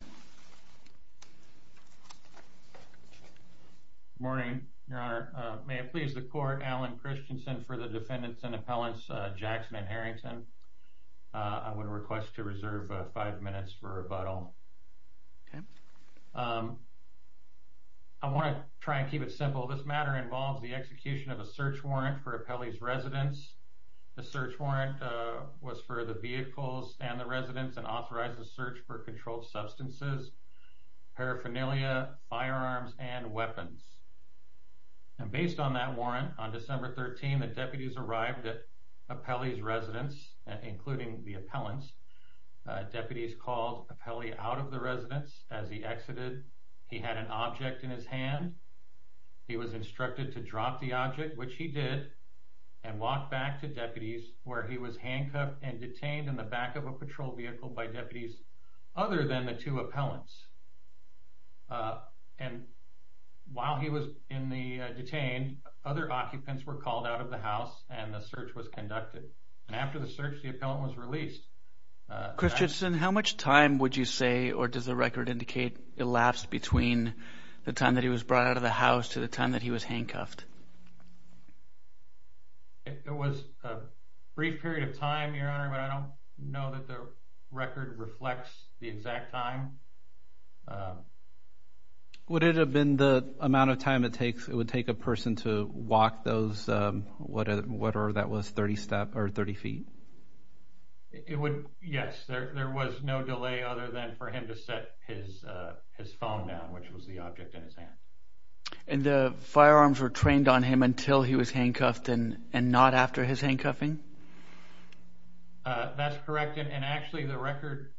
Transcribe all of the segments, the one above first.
Good morning, Your Honor. May it please the Court, Alan Christensen for the defendants and appellants, Jackson and Harrington. I would request to reserve five minutes for rebuttal. I want to try and keep it simple. This matter involves the execution of a search warrant for Appelli's residence. The search warrant was for the vehicles and the residents and authorizes search for controlled substances, paraphernalia, firearms and weapons. And based on that warrant, on December 13 the deputies arrived at Appelli's residence, including the appellants. Deputies called Appelli out of the residence as he exited. He had an object in his hand. He was instructed to drop the object, which he did, and walk back to deputies where he was handcuffed and detained in the back of a patrol vehicle by deputies other than the two appellants. While he was detained, other occupants were called out of the house and the search was conducted. After the search, the appellant was released. Christensen, how much time would you say or does the record indicate elapsed between the time that he was brought out of the house to the time that he was handcuffed? It was a brief period of time, Your Honor, but I don't know that the record reflects the exact time. Would it have been the amount of time it would take a person to walk those, whatever that was, 30 feet? Yes, there was no delay other than for him to set his phone down, which was the object in his hand. And the firearms were trained on him until he was handcuffed and not after his handcuffing? That's correct, and actually the record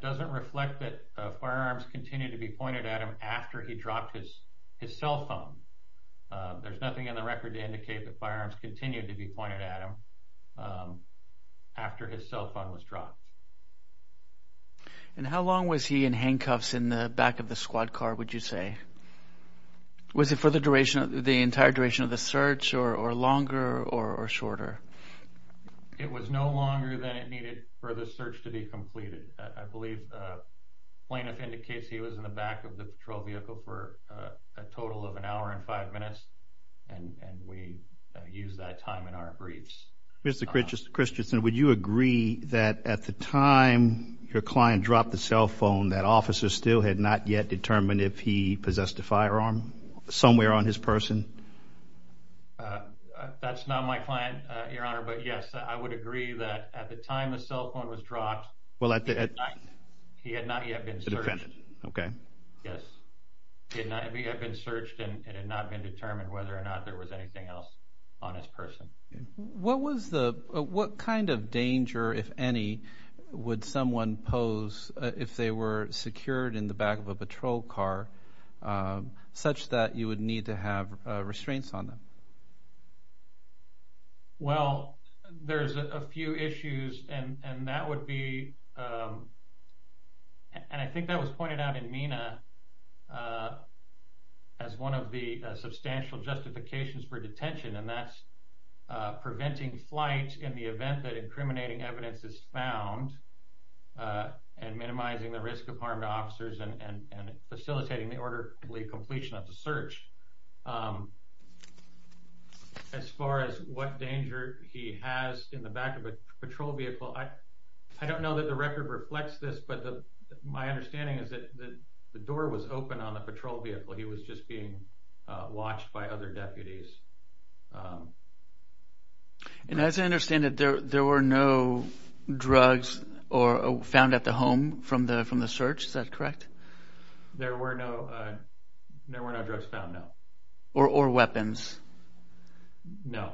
doesn't reflect that firearms continued to be pointed at him after he dropped his cell phone. There's nothing in the record to indicate that firearms continued to be pointed at him after his cell phone was dropped. And how long was he in handcuffs in the back of the squad car, would you say? Was it for the duration, the entire duration of the search or longer or shorter? It was no longer than it needed for the search to be completed. I believe plaintiff indicates he was in the back of the patrol vehicle for a total of an hour and five minutes. And we used that time in our briefs. Mr. Christensen, would you agree that at the time your client dropped the cell phone, that officer still had not yet determined if he possessed a firearm somewhere on his person? That's not my client, Your Honor, but yes, I would agree that at the time the cell phone was dropped, he had not yet been searched. Yes, he had not yet been searched and it had not been determined whether or not there was anything else on his person. What kind of danger, if any, would someone pose if they were secured in the back of a patrol car, such that you would need to have restraints on them? Well, there's a few issues and that would be, and I think that was pointed out in MENA, as one of the substantial justifications for detention and that's preventing flight in the event that incriminating evidence is found and minimizing the risk of harm to officers and facilitating the orderly completion of the search. As far as what danger he has in the back of a patrol vehicle, I don't know that the record reflects this, but my understanding is that the door was open on the patrol vehicle. He was just being watched by other deputies. And as I understand it, there were no drugs found at the home from the search, is that correct? There were no drugs found, no. Or weapons? No.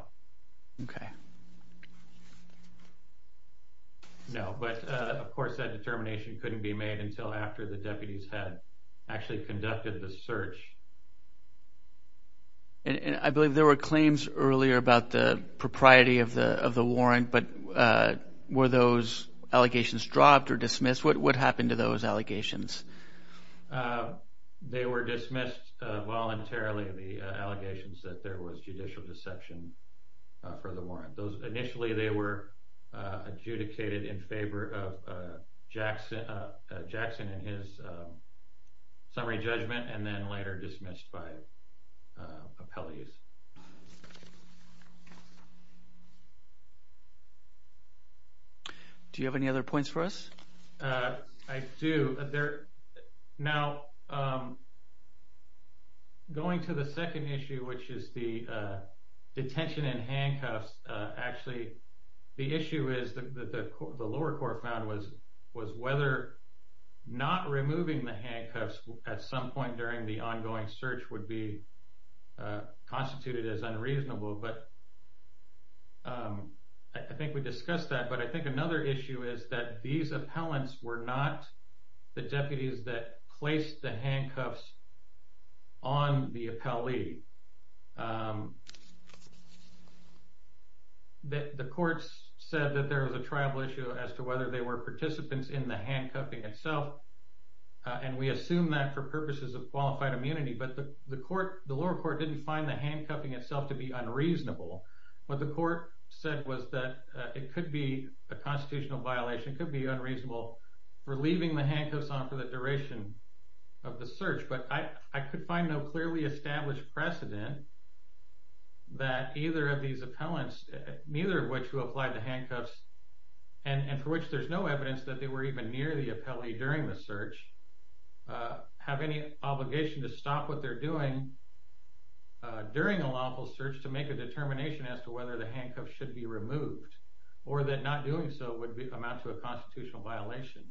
No, but of course that determination couldn't be made until after the deputies had actually conducted the search. I believe there were claims earlier about the propriety of the warrant, but were those allegations dropped or dismissed? What happened to those allegations? They were dismissed voluntarily, the allegations that there was judicial deception for the warrant. Initially they were adjudicated in favor of Jackson and his summary judgment and then later dismissed by appellees. Do you have any other points for us? I do. Now, going to the second issue, which is the detention in handcuffs, actually the issue is that the lower court found was whether not removing the handcuffs at some point during the ongoing search would be constituted as a violation of the law. And the appellants were not the deputies that placed the handcuffs on the appellee. The courts said that there was a tribal issue as to whether they were participants in the handcuffing itself. And we assume that for purposes of qualified immunity, but the lower court didn't find the handcuffing itself to be unreasonable. What the court said was that it could be a constitutional violation, could be unreasonable for leaving the handcuffs on for the duration of the search. But I could find no clearly established precedent that either of these appellants, neither of which who applied the handcuffs and for which there's no evidence that they were even near the appellee during the search, have any obligation to stop what they're doing during a lawful search to make a determination as to whether the handcuffs should be removed or that not doing so would amount to a constitutional violation.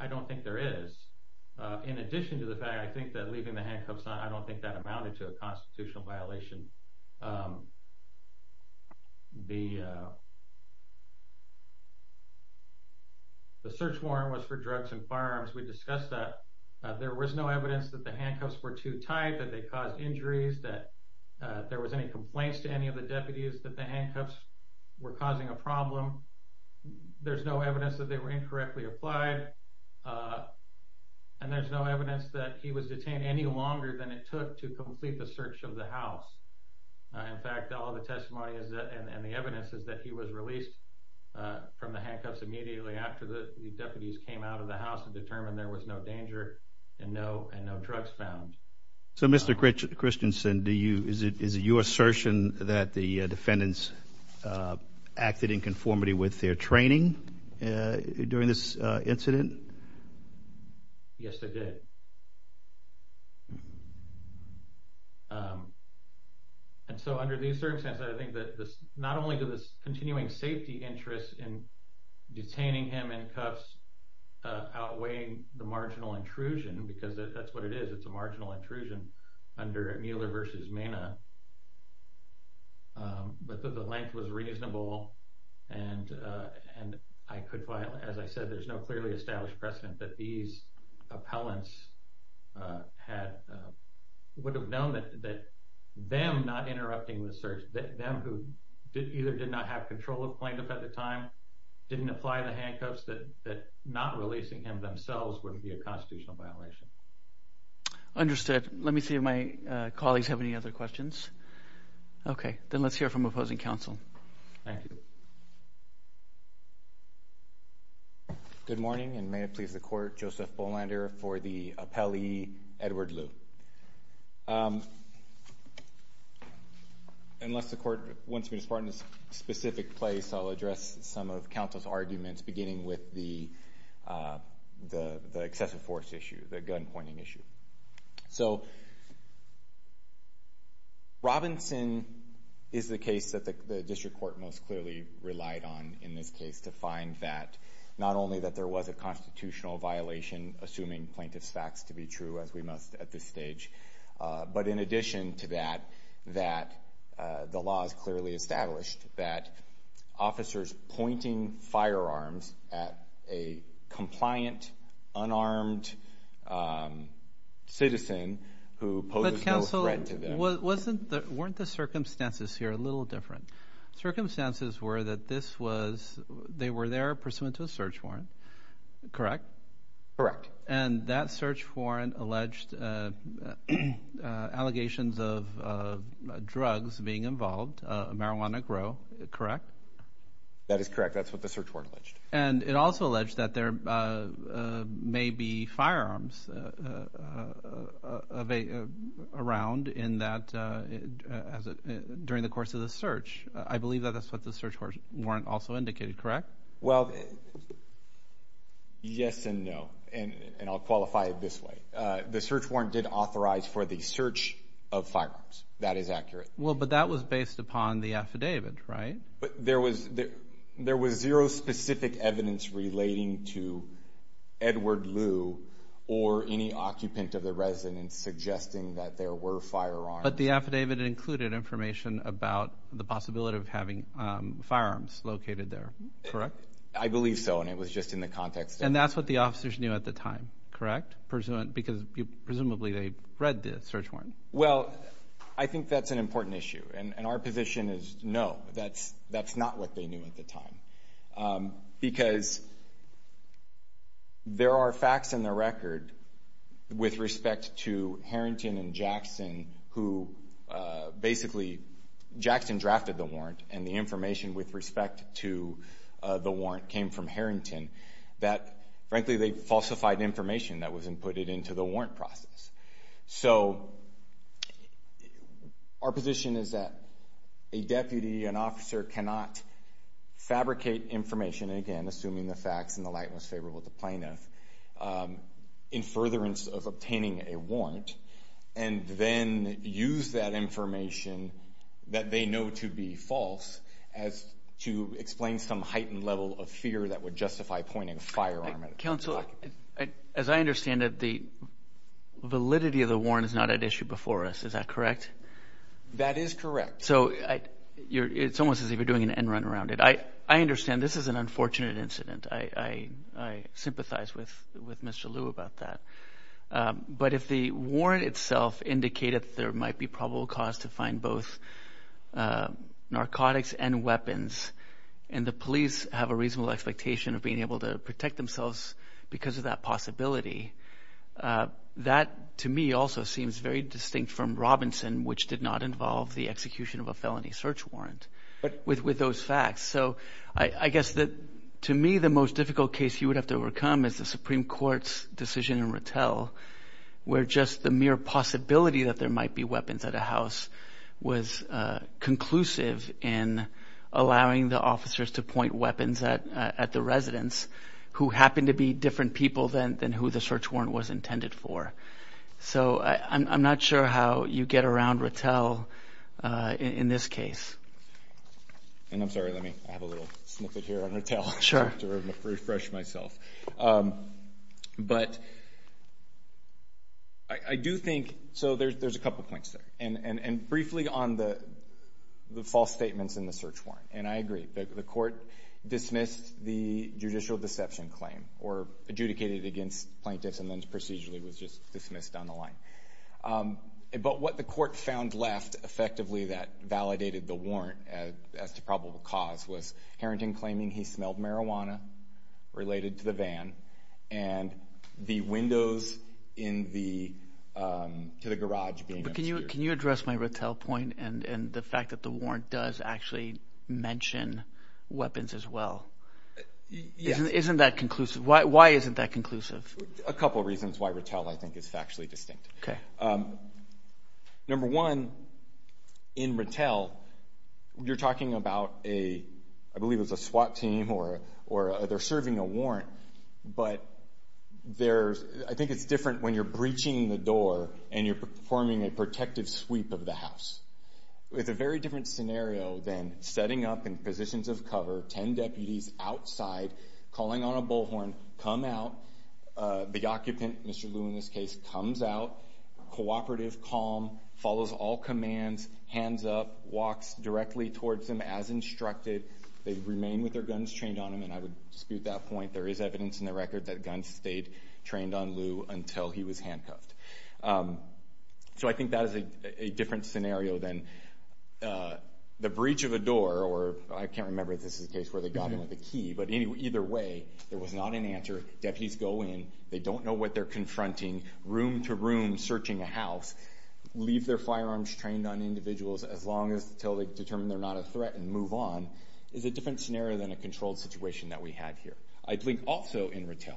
I don't think there is. In addition to the fact, I think that leaving the handcuffs on, I don't think that amounted to a constitutional violation. The search warrant was for drugs and firearms. We discussed that. There was no evidence that the handcuffs were too tight, that they caused injuries, that there was any complaints to any of the deputies that the handcuffs were causing a problem. There's no evidence that they were incorrectly applied. And there's no evidence that he was detained any longer than it took to complete the search of the house. In fact, all the testimony and the evidence is that he was released from the handcuffs immediately after the deputies came out of the house and determined there was no danger and no drugs found. So Mr. Christensen, is it your assertion that the defendants acted in conformity with their training during this incident? Yes, they did. And so under these circumstances, I think that not only does this continuing safety interest in detaining him in cuffs outweigh the marginal intrusion, because that's what it is. It's a marginal intrusion under Mueller v. Mena. But the length was reasonable. And as I said, there's no clearly established precedent that these appellants would have known that them not interrupting the search, them who either did not have control of plaintiff at the time, didn't apply the handcuffs, that not releasing him themselves wouldn't be a constitutional violation. Understood. Let me see if my colleagues have any other questions. Okay, then let's hear from opposing counsel. Thank you. Good morning, and may it please the court, Joseph Bolander for the appellee, Edward Liu. Unless the court wants me to start in a specific place, I'll address some of counsel's arguments, beginning with the excessive force issue, the gun pointing issue. So Robinson is the case that the district court most clearly relied on in this case to find that not only that there was a constitutional violation, assuming plaintiff's facts to be true, as we must at this stage, but in addition to that, that the law is clearly established that officers pointing firearms at a compliant, unarmed citizen who poses no threat to them. But counsel, weren't the circumstances here a little different? Circumstances were that they were there pursuant to a search warrant, correct? Correct. And that search warrant alleged allegations of drugs being involved, marijuana grow, correct? That is correct. That's what the search warrant alleged. And it also alleged that there may be firearms around during the course of the search. I believe that's what the search warrant also indicated, correct? Well, yes and no, and I'll qualify it this way. The search warrant did authorize for the search of firearms. That is accurate. Well, but that was based upon the affidavit, right? But there was zero specific evidence relating to Edward Liu or any occupant of the residence suggesting that there were firearms. But the affidavit included information about the possibility of having firearms located there, correct? I believe so, and it was just in the context of— And that's what the officers knew at the time, correct? Because presumably they read the search warrant. Well, I think that's an important issue, and our position is no, that's not what they knew at the time. Because there are facts in the record with respect to Harrington and Jackson who basically— Jackson drafted the warrant, and the information with respect to the warrant came from Harrington that, frankly, they falsified information that was inputted into the warrant process. So our position is that a deputy, an officer, cannot fabricate information— again, assuming the facts in the light and what's favorable to the plaintiff—in furtherance of obtaining a warrant and then use that information that they know to be false to explain some heightened level of fear that would justify pointing a firearm at an occupant. Counsel, as I understand it, the validity of the warrant is not at issue before us, is that correct? That is correct. So it's almost as if you're doing an end run around it. I understand this is an unfortunate incident. I sympathize with Mr. Lew about that. But if the warrant itself indicated that there might be probable cause to find both narcotics and weapons and the police have a reasonable expectation of being able to protect themselves because of that possibility, that, to me, also seems very distinct from Robinson, which did not involve the execution of a felony search warrant with those facts. So I guess that, to me, the most difficult case you would have to overcome is the Supreme Court's decision in Rattel, where just the mere possibility that there might be weapons at a house was conclusive in allowing the officers to point weapons at the residents who happened to be different people than who the search warrant was intended for. So I'm not sure how you get around Rattel in this case. And I'm sorry, let me have a little snippet here on Rattel. Sure. I have to refresh myself. But I do think, so there's a couple points there. And briefly on the false statements in the search warrant. And I agree. The court dismissed the judicial deception claim or adjudicated it against plaintiffs and then procedurally was just dismissed down the line. But what the court found left, effectively, that validated the warrant as to probable cause, was Harrington claiming he smelled marijuana related to the van and the windows to the garage being obscured. But can you address my Rattel point and the fact that the warrant does actually mention weapons as well? Yes. Isn't that conclusive? Why isn't that conclusive? A couple reasons why Rattel, I think, is factually distinct. Okay. Number one, in Rattel, you're talking about a, I believe it's a SWAT team or they're serving a warrant. But I think it's different when you're breaching the door and you're performing a protective sweep of the house. It's a very different scenario than setting up in positions of cover, 10 deputies outside, calling on a bullhorn, come out. The occupant, Mr. Liu in this case, comes out, cooperative, calm, follows all commands, hands up, walks directly towards them as instructed. They remain with their guns trained on them. And I would dispute that point. There is evidence in the record that guns stayed trained on Liu until he was handcuffed. So I think that is a different scenario than the breach of a door. Or I can't remember if this is a case where they got him with a key. But either way, there was not an answer. Deputies go in. They don't know what they're confronting. Room to room searching a house. Leave their firearms trained on individuals as long as until they determine they're not a threat and move on. It's a different scenario than a controlled situation that we had here. I think also in Rattel,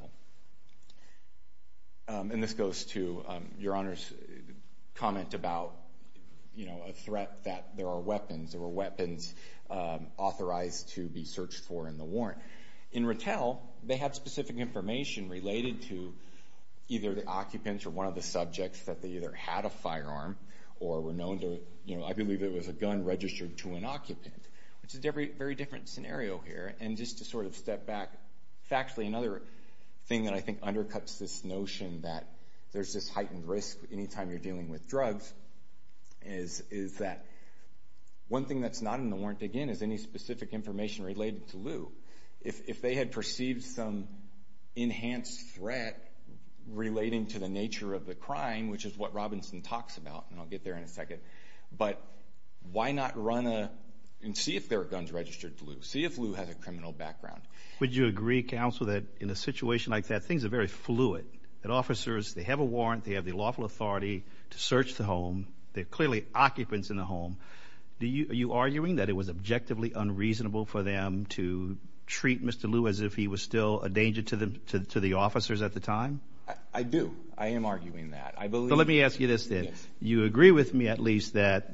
and this goes to Your Honor's comment about, you know, a threat that there are weapons. There were weapons authorized to be searched for in the warrant. In Rattel, they had specific information related to either the occupants or one of the subjects that they either had a firearm or were known to, you know, I believe it was a gun registered to an occupant, which is a very different scenario here. And just to sort of step back factually, another thing that I think undercuts this notion that there's this heightened risk any time you're is that one thing that's not in the warrant, again, is any specific information related to Lew. If they had perceived some enhanced threat relating to the nature of the crime, which is what Robinson talks about, and I'll get there in a second, but why not run and see if there are guns registered to Lew? See if Lew has a criminal background. Would you agree, Counsel, that in a situation like that, things are very fluid? That officers, they have a warrant. They have the lawful authority to search the home. They're clearly occupants in the home. Are you arguing that it was objectively unreasonable for them to treat Mr. Lew as if he was still a danger to the officers at the time? I do. I am arguing that. But let me ask you this then. Yes. You agree with me at least that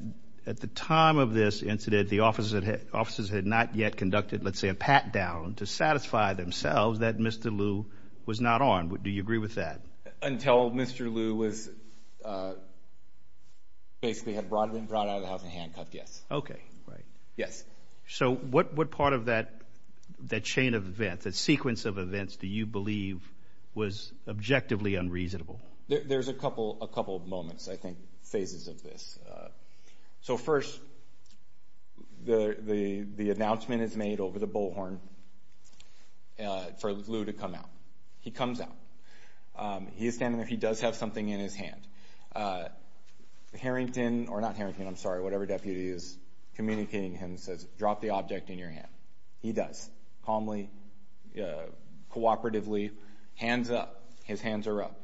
at the time of this incident, the officers had not yet conducted, let's say, a pat-down to satisfy themselves that Mr. Lew was not armed. Do you agree with that? Until Mr. Lew basically had been brought out of the house and handcuffed, yes. Okay. Right. Yes. So what part of that chain of events, that sequence of events, do you believe was objectively unreasonable? There's a couple of moments, I think, phases of this. So first, the announcement is made over the bullhorn for Lew to come out. He comes out. He is standing there. He does have something in his hand. Harrington, or not Harrington, I'm sorry, whatever deputy is communicating to him, says, drop the object in your hand. He does. Calmly, cooperatively, hands up. His hands are up.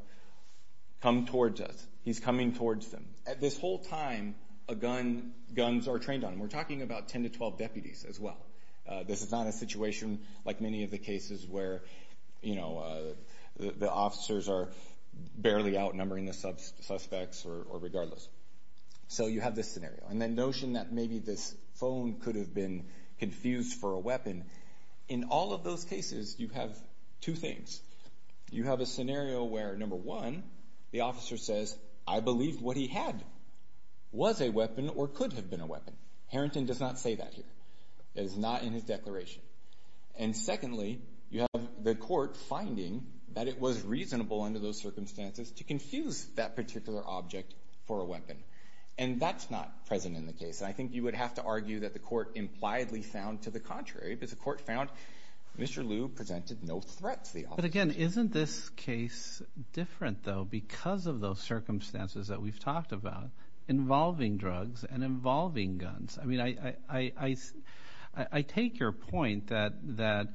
Come towards us. He's coming towards them. At this whole time, a gun, guns are trained on him. We're talking about 10 to 12 deputies as well. This is not a situation like many of the cases where the officers are barely outnumbering the suspects or regardless. So you have this scenario. And the notion that maybe this phone could have been confused for a weapon, in all of those cases, you have two things. You have a scenario where, number one, the officer says, I believe what he had was a weapon or could have been a weapon. Harrington does not say that here. It is not in his declaration. And secondly, you have the court finding that it was reasonable under those circumstances to confuse that particular object for a weapon. And that's not present in the case. And I think you would have to argue that the court impliedly found to the contrary. Because the court found Mr. Liu presented no threat to the officer. But, again, isn't this case different, though, because of those circumstances that we've talked about involving drugs and involving guns? I mean, I take your point that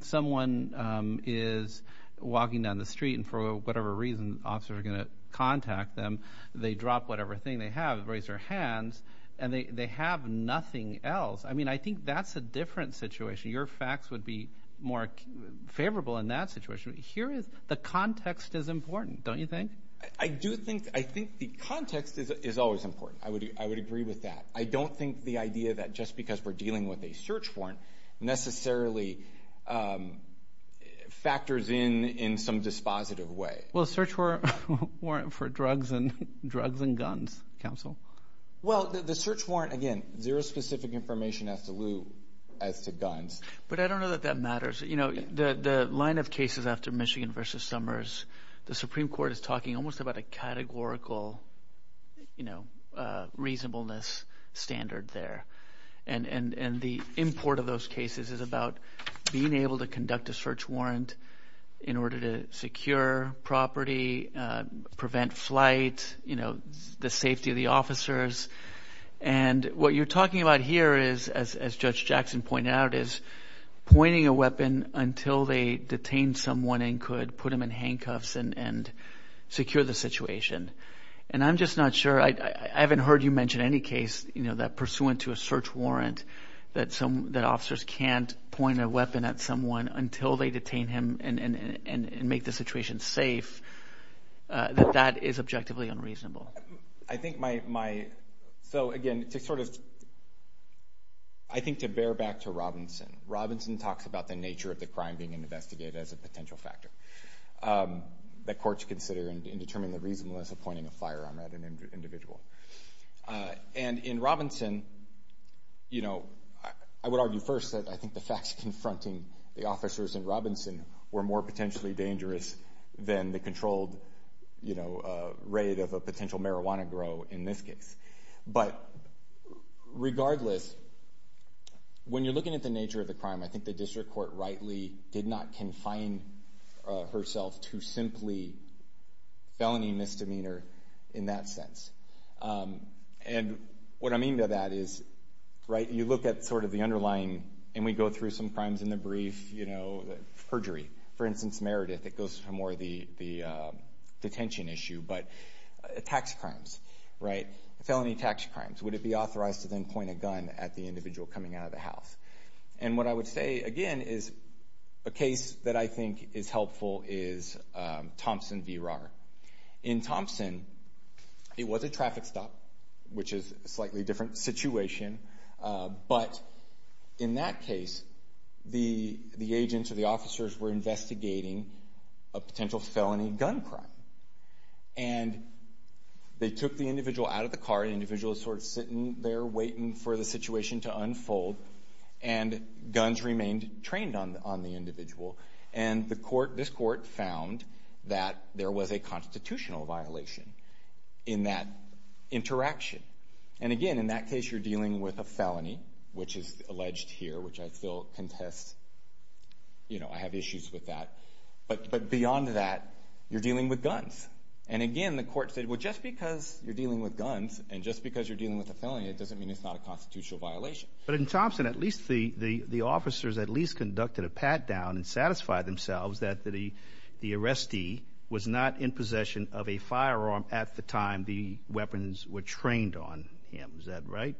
someone is walking down the street and for whatever reason officers are going to contact them. They drop whatever thing they have, raise their hands, and they have nothing else. I mean, I think that's a different situation. Your facts would be more favorable in that situation. Here is the context is important, don't you think? I do think the context is always important. I would agree with that. I don't think the idea that just because we're dealing with a search warrant necessarily factors in in some dispositive way. Well, a search warrant for drugs and guns, counsel. Well, the search warrant, again, zero specific information as to guns. But I don't know that that matters. The line of cases after Michigan v. Summers, the Supreme Court is talking almost about a categorical reasonableness standard there. And the import of those cases is about being able to conduct a search warrant in order to secure property, prevent flight, the safety of the officers. And what you're talking about here is, as Judge Jackson pointed out, is pointing a weapon until they detain someone and could put them in handcuffs and secure the situation. And I'm just not sure. I haven't heard you mention any case that pursuant to a search warrant that officers can't point a weapon at someone until they detain him and make the situation safe, that that is objectively unreasonable. I think my – so, again, to sort of – I think to bear back to Robinson. Robinson talks about the nature of the crime being investigated as a potential factor that courts consider in determining the reasonableness of pointing a firearm at an individual. And in Robinson, you know, I would argue first that I think the facts confronting the officers in Robinson were more potentially dangerous than the controlled, you know, rate of a potential marijuana grow in this case. But regardless, when you're looking at the nature of the crime, I think the district court rightly did not confine herself to simply felony misdemeanor in that sense. And what I mean by that is, right, you look at sort of the underlying – and we go through some crimes in the brief, you know, perjury. For instance, Meredith, it goes for more the detention issue, but tax crimes, right, felony tax crimes. Would it be authorized to then point a gun at the individual coming out of the house? And what I would say, again, is a case that I think is helpful is Thompson v. Rahr. In Thompson, it was a traffic stop, which is a slightly different situation. But in that case, the agents or the officers were investigating a potential felony gun crime. And they took the individual out of the car. The individual was sort of sitting there waiting for the situation to unfold. And guns remained trained on the individual. And this court found that there was a constitutional violation in that interaction. And, again, in that case, you're dealing with a felony, which is alleged here, which I still contest. You know, I have issues with that. But beyond that, you're dealing with guns. And, again, the court said, well, just because you're dealing with guns and just because you're dealing with a felony, it doesn't mean it's not a constitutional violation. But in Thompson, at least the officers at least conducted a pat-down and satisfied themselves that the arrestee was not in possession of a firearm at the time the weapons were trained on him. Is that right?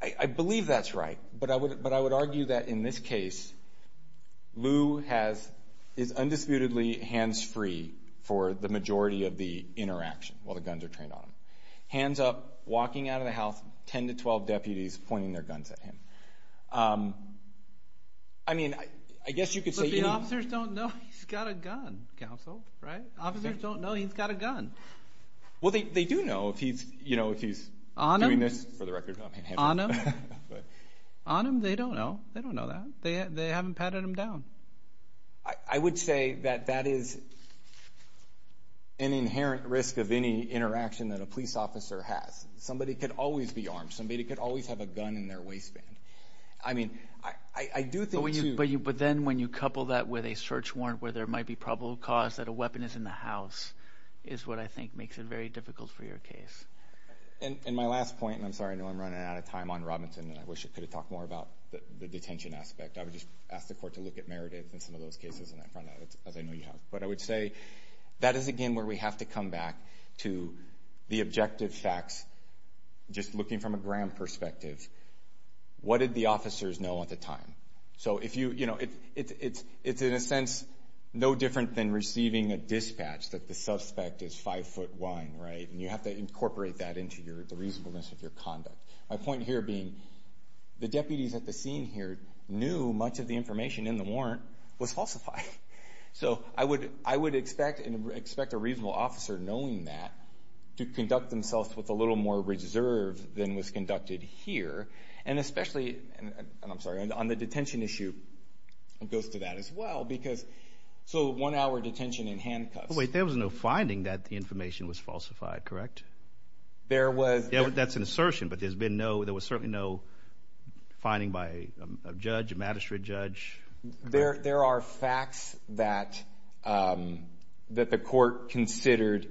I believe that's right. But I would argue that in this case, Lew is undisputedly hands-free for the majority of the interaction while the guns are trained on him. Hands up, walking out of the house, 10 to 12 deputies pointing their guns at him. I mean, I guess you could say any – But the officers don't know he's got a gun, counsel. Right? Officers don't know he's got a gun. Well, they do know if he's – you know, if he's doing this – On him? On him. On him, they don't know. They don't know that. They haven't patted him down. I would say that that is an inherent risk of any interaction that a police officer has. Somebody could always be armed. Somebody could always have a gun in their waistband. I mean, I do think, too – But then when you couple that with a search warrant where there might be probable cause that a weapon is in the house is what I think makes it very difficult for your case. And my last point – and I'm sorry, I know I'm running out of time on Robinson, and I wish I could have talked more about the detention aspect. I would just ask the court to look at Meredith and some of those cases as I know you have. But I would say that is, again, where we have to come back to the objective facts, just looking from a ground perspective. What did the officers know at the time? So if you – you know, it's in a sense no different than receiving a dispatch, that the suspect is five foot one, right? And you have to incorporate that into the reasonableness of your conduct. My point here being the deputies at the scene here knew much of the information in the warrant was falsified. So I would expect a reasonable officer, knowing that, to conduct themselves with a little more reserve than was conducted here. And especially – and I'm sorry, on the detention issue, it goes to that as well. Because – so one-hour detention in handcuffs. Wait, there was no finding that the information was falsified, correct? There was. That's an assertion, but there's been no – there was certainly no finding by a judge, a magistrate judge. There are facts that the court considered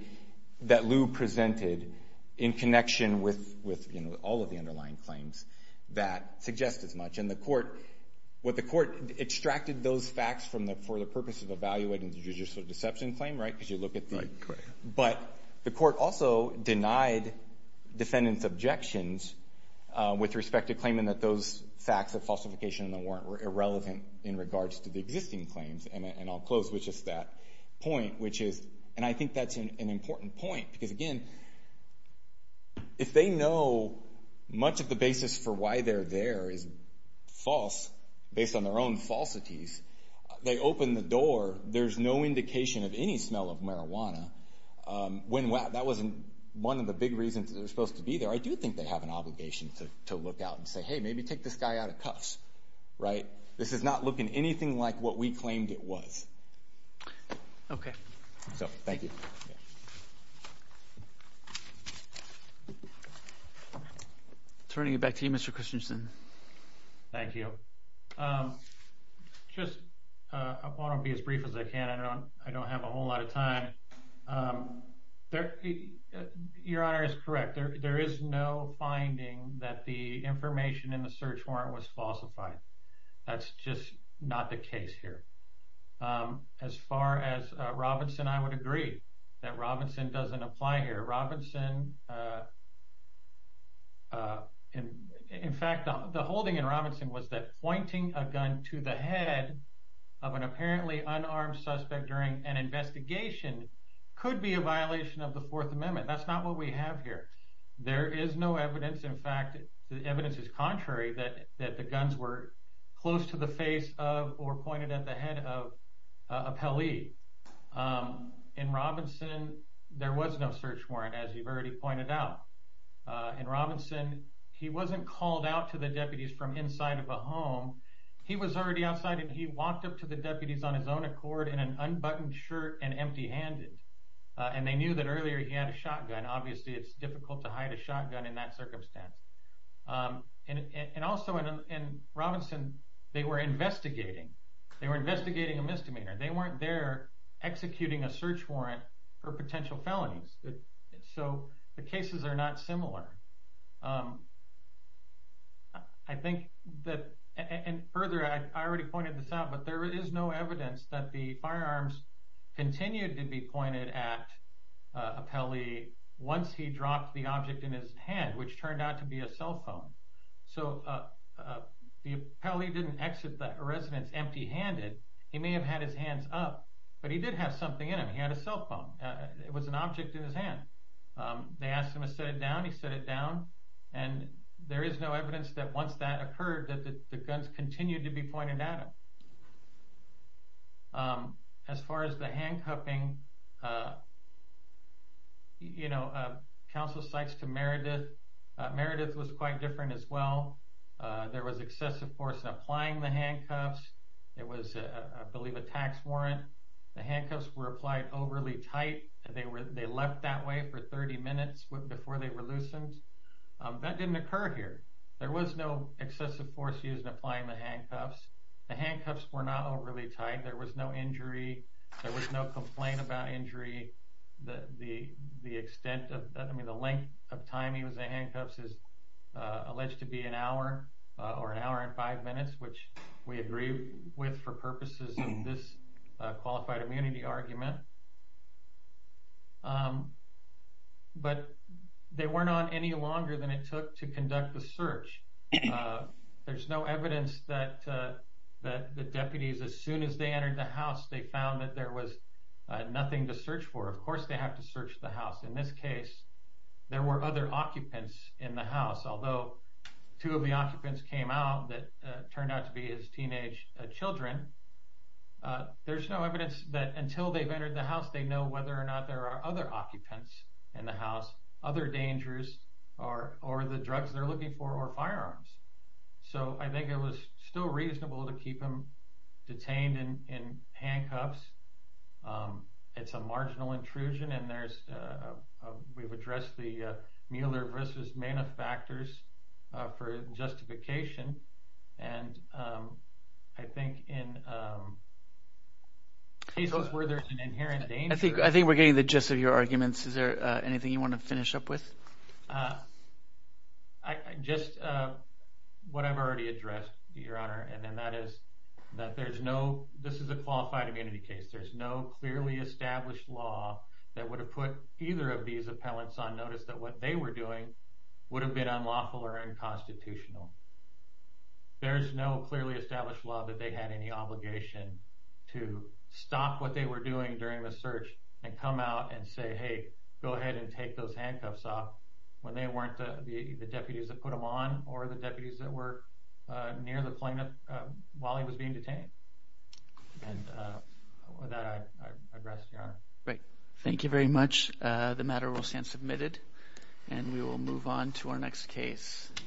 that Lou presented in connection with, you know, all of the underlying claims that suggest as much. And the court – what the court – extracted those facts from the – for the purpose of evaluating the judicial deception claim, right, because you look at the – Right, correct. But the court also denied defendants' objections with respect to claiming that those facts of falsification in the warrant were irrelevant in regards to the existing claims. And I'll close with just that point, which is – and I think that's an important point. Because, again, if they know much of the basis for why they're there is false, based on their own falsities, they open the door. There's no indication of any smell of marijuana. When – that wasn't one of the big reasons they were supposed to be there. I do think they have an obligation to look out and say, hey, maybe take this guy out of cuffs, right? This is not looking anything like what we claimed it was. Okay. So thank you. Turning it back to you, Mr. Christensen. Thank you. Just – I want to be as brief as I can. I don't have a whole lot of time. Your Honor is correct. There is no finding that the information in the search warrant was falsified. That's just not the case here. As far as Robinson, I would agree that Robinson doesn't apply here. Robinson – in fact, the holding in Robinson was that pointing a gun to the head of an apparently unarmed suspect during an investigation could be a violation of the Fourth Amendment. That's not what we have here. There is no evidence. In fact, the evidence is contrary that the guns were close to the face of or pointed at the head of a pelee. In Robinson, there was no search warrant, as you've already pointed out. In Robinson, he wasn't called out to the deputies from inside of a home. He was already outside, and he walked up to the deputies on his own accord in an unbuttoned shirt and empty-handed. And they knew that earlier he had a shotgun. Obviously, it's difficult to hide a shotgun in that circumstance. And also, in Robinson, they were investigating. They were investigating a misdemeanor. They weren't there executing a search warrant for potential felonies. So the cases are not similar. I think that – and further, I already pointed this out, but there is no evidence that the firearms continued to be pointed at a pelee once he dropped the object in his hand, which turned out to be a cell phone. So the pelee didn't exit the residence empty-handed. He may have had his hands up, but he did have something in him. He had a cell phone. It was an object in his hand. They asked him to set it down. He set it down. And there is no evidence that once that occurred that the guns continued to be pointed at him. As far as the handcuffing, you know, counsel cites to Meredith. Meredith was quite different as well. There was excessive force in applying the handcuffs. It was, I believe, a tax warrant. The handcuffs were applied overly tight. They left that way for 30 minutes before they were loosened. That didn't occur here. There was no excessive force used in applying the handcuffs. The handcuffs were not overly tight. There was no injury. There was no complaint about injury. The length of time he was in handcuffs is alleged to be an hour or an hour and five minutes, which we agree with for purposes of this qualified immunity argument. But they weren't on any longer than it took to conduct the search. There's no evidence that the deputies, as soon as they entered the house, they found that there was nothing to search for. Of course they have to search the house. In this case, there were other occupants in the house. Although two of the occupants came out that turned out to be his teenage children, there's no evidence that until they've entered the house, they know whether or not there are other occupants in the house, other dangers or the drugs they're looking for or firearms. I think it was still reasonable to keep him detained in handcuffs. It's a marginal intrusion. We've addressed the Mueller versus Mana factors for justification. I think in cases where there's an inherent danger— I think we're getting the gist of your arguments. Is there anything you want to finish up with? Just what I've already addressed, Your Honor, and that is that this is a qualified immunity case. There's no clearly established law that would have put either of these appellants on notice that what they were doing would have been unlawful or unconstitutional. There's no clearly established law that they had any obligation to stop what they were doing during the search and come out and say, hey, go ahead and take those handcuffs off, when they weren't the deputies that put them on or the deputies that were near the plane while he was being detained. With that, I'd rest, Your Honor. Great. Thank you very much. The matter will stand submitted, and we will move on to our next case.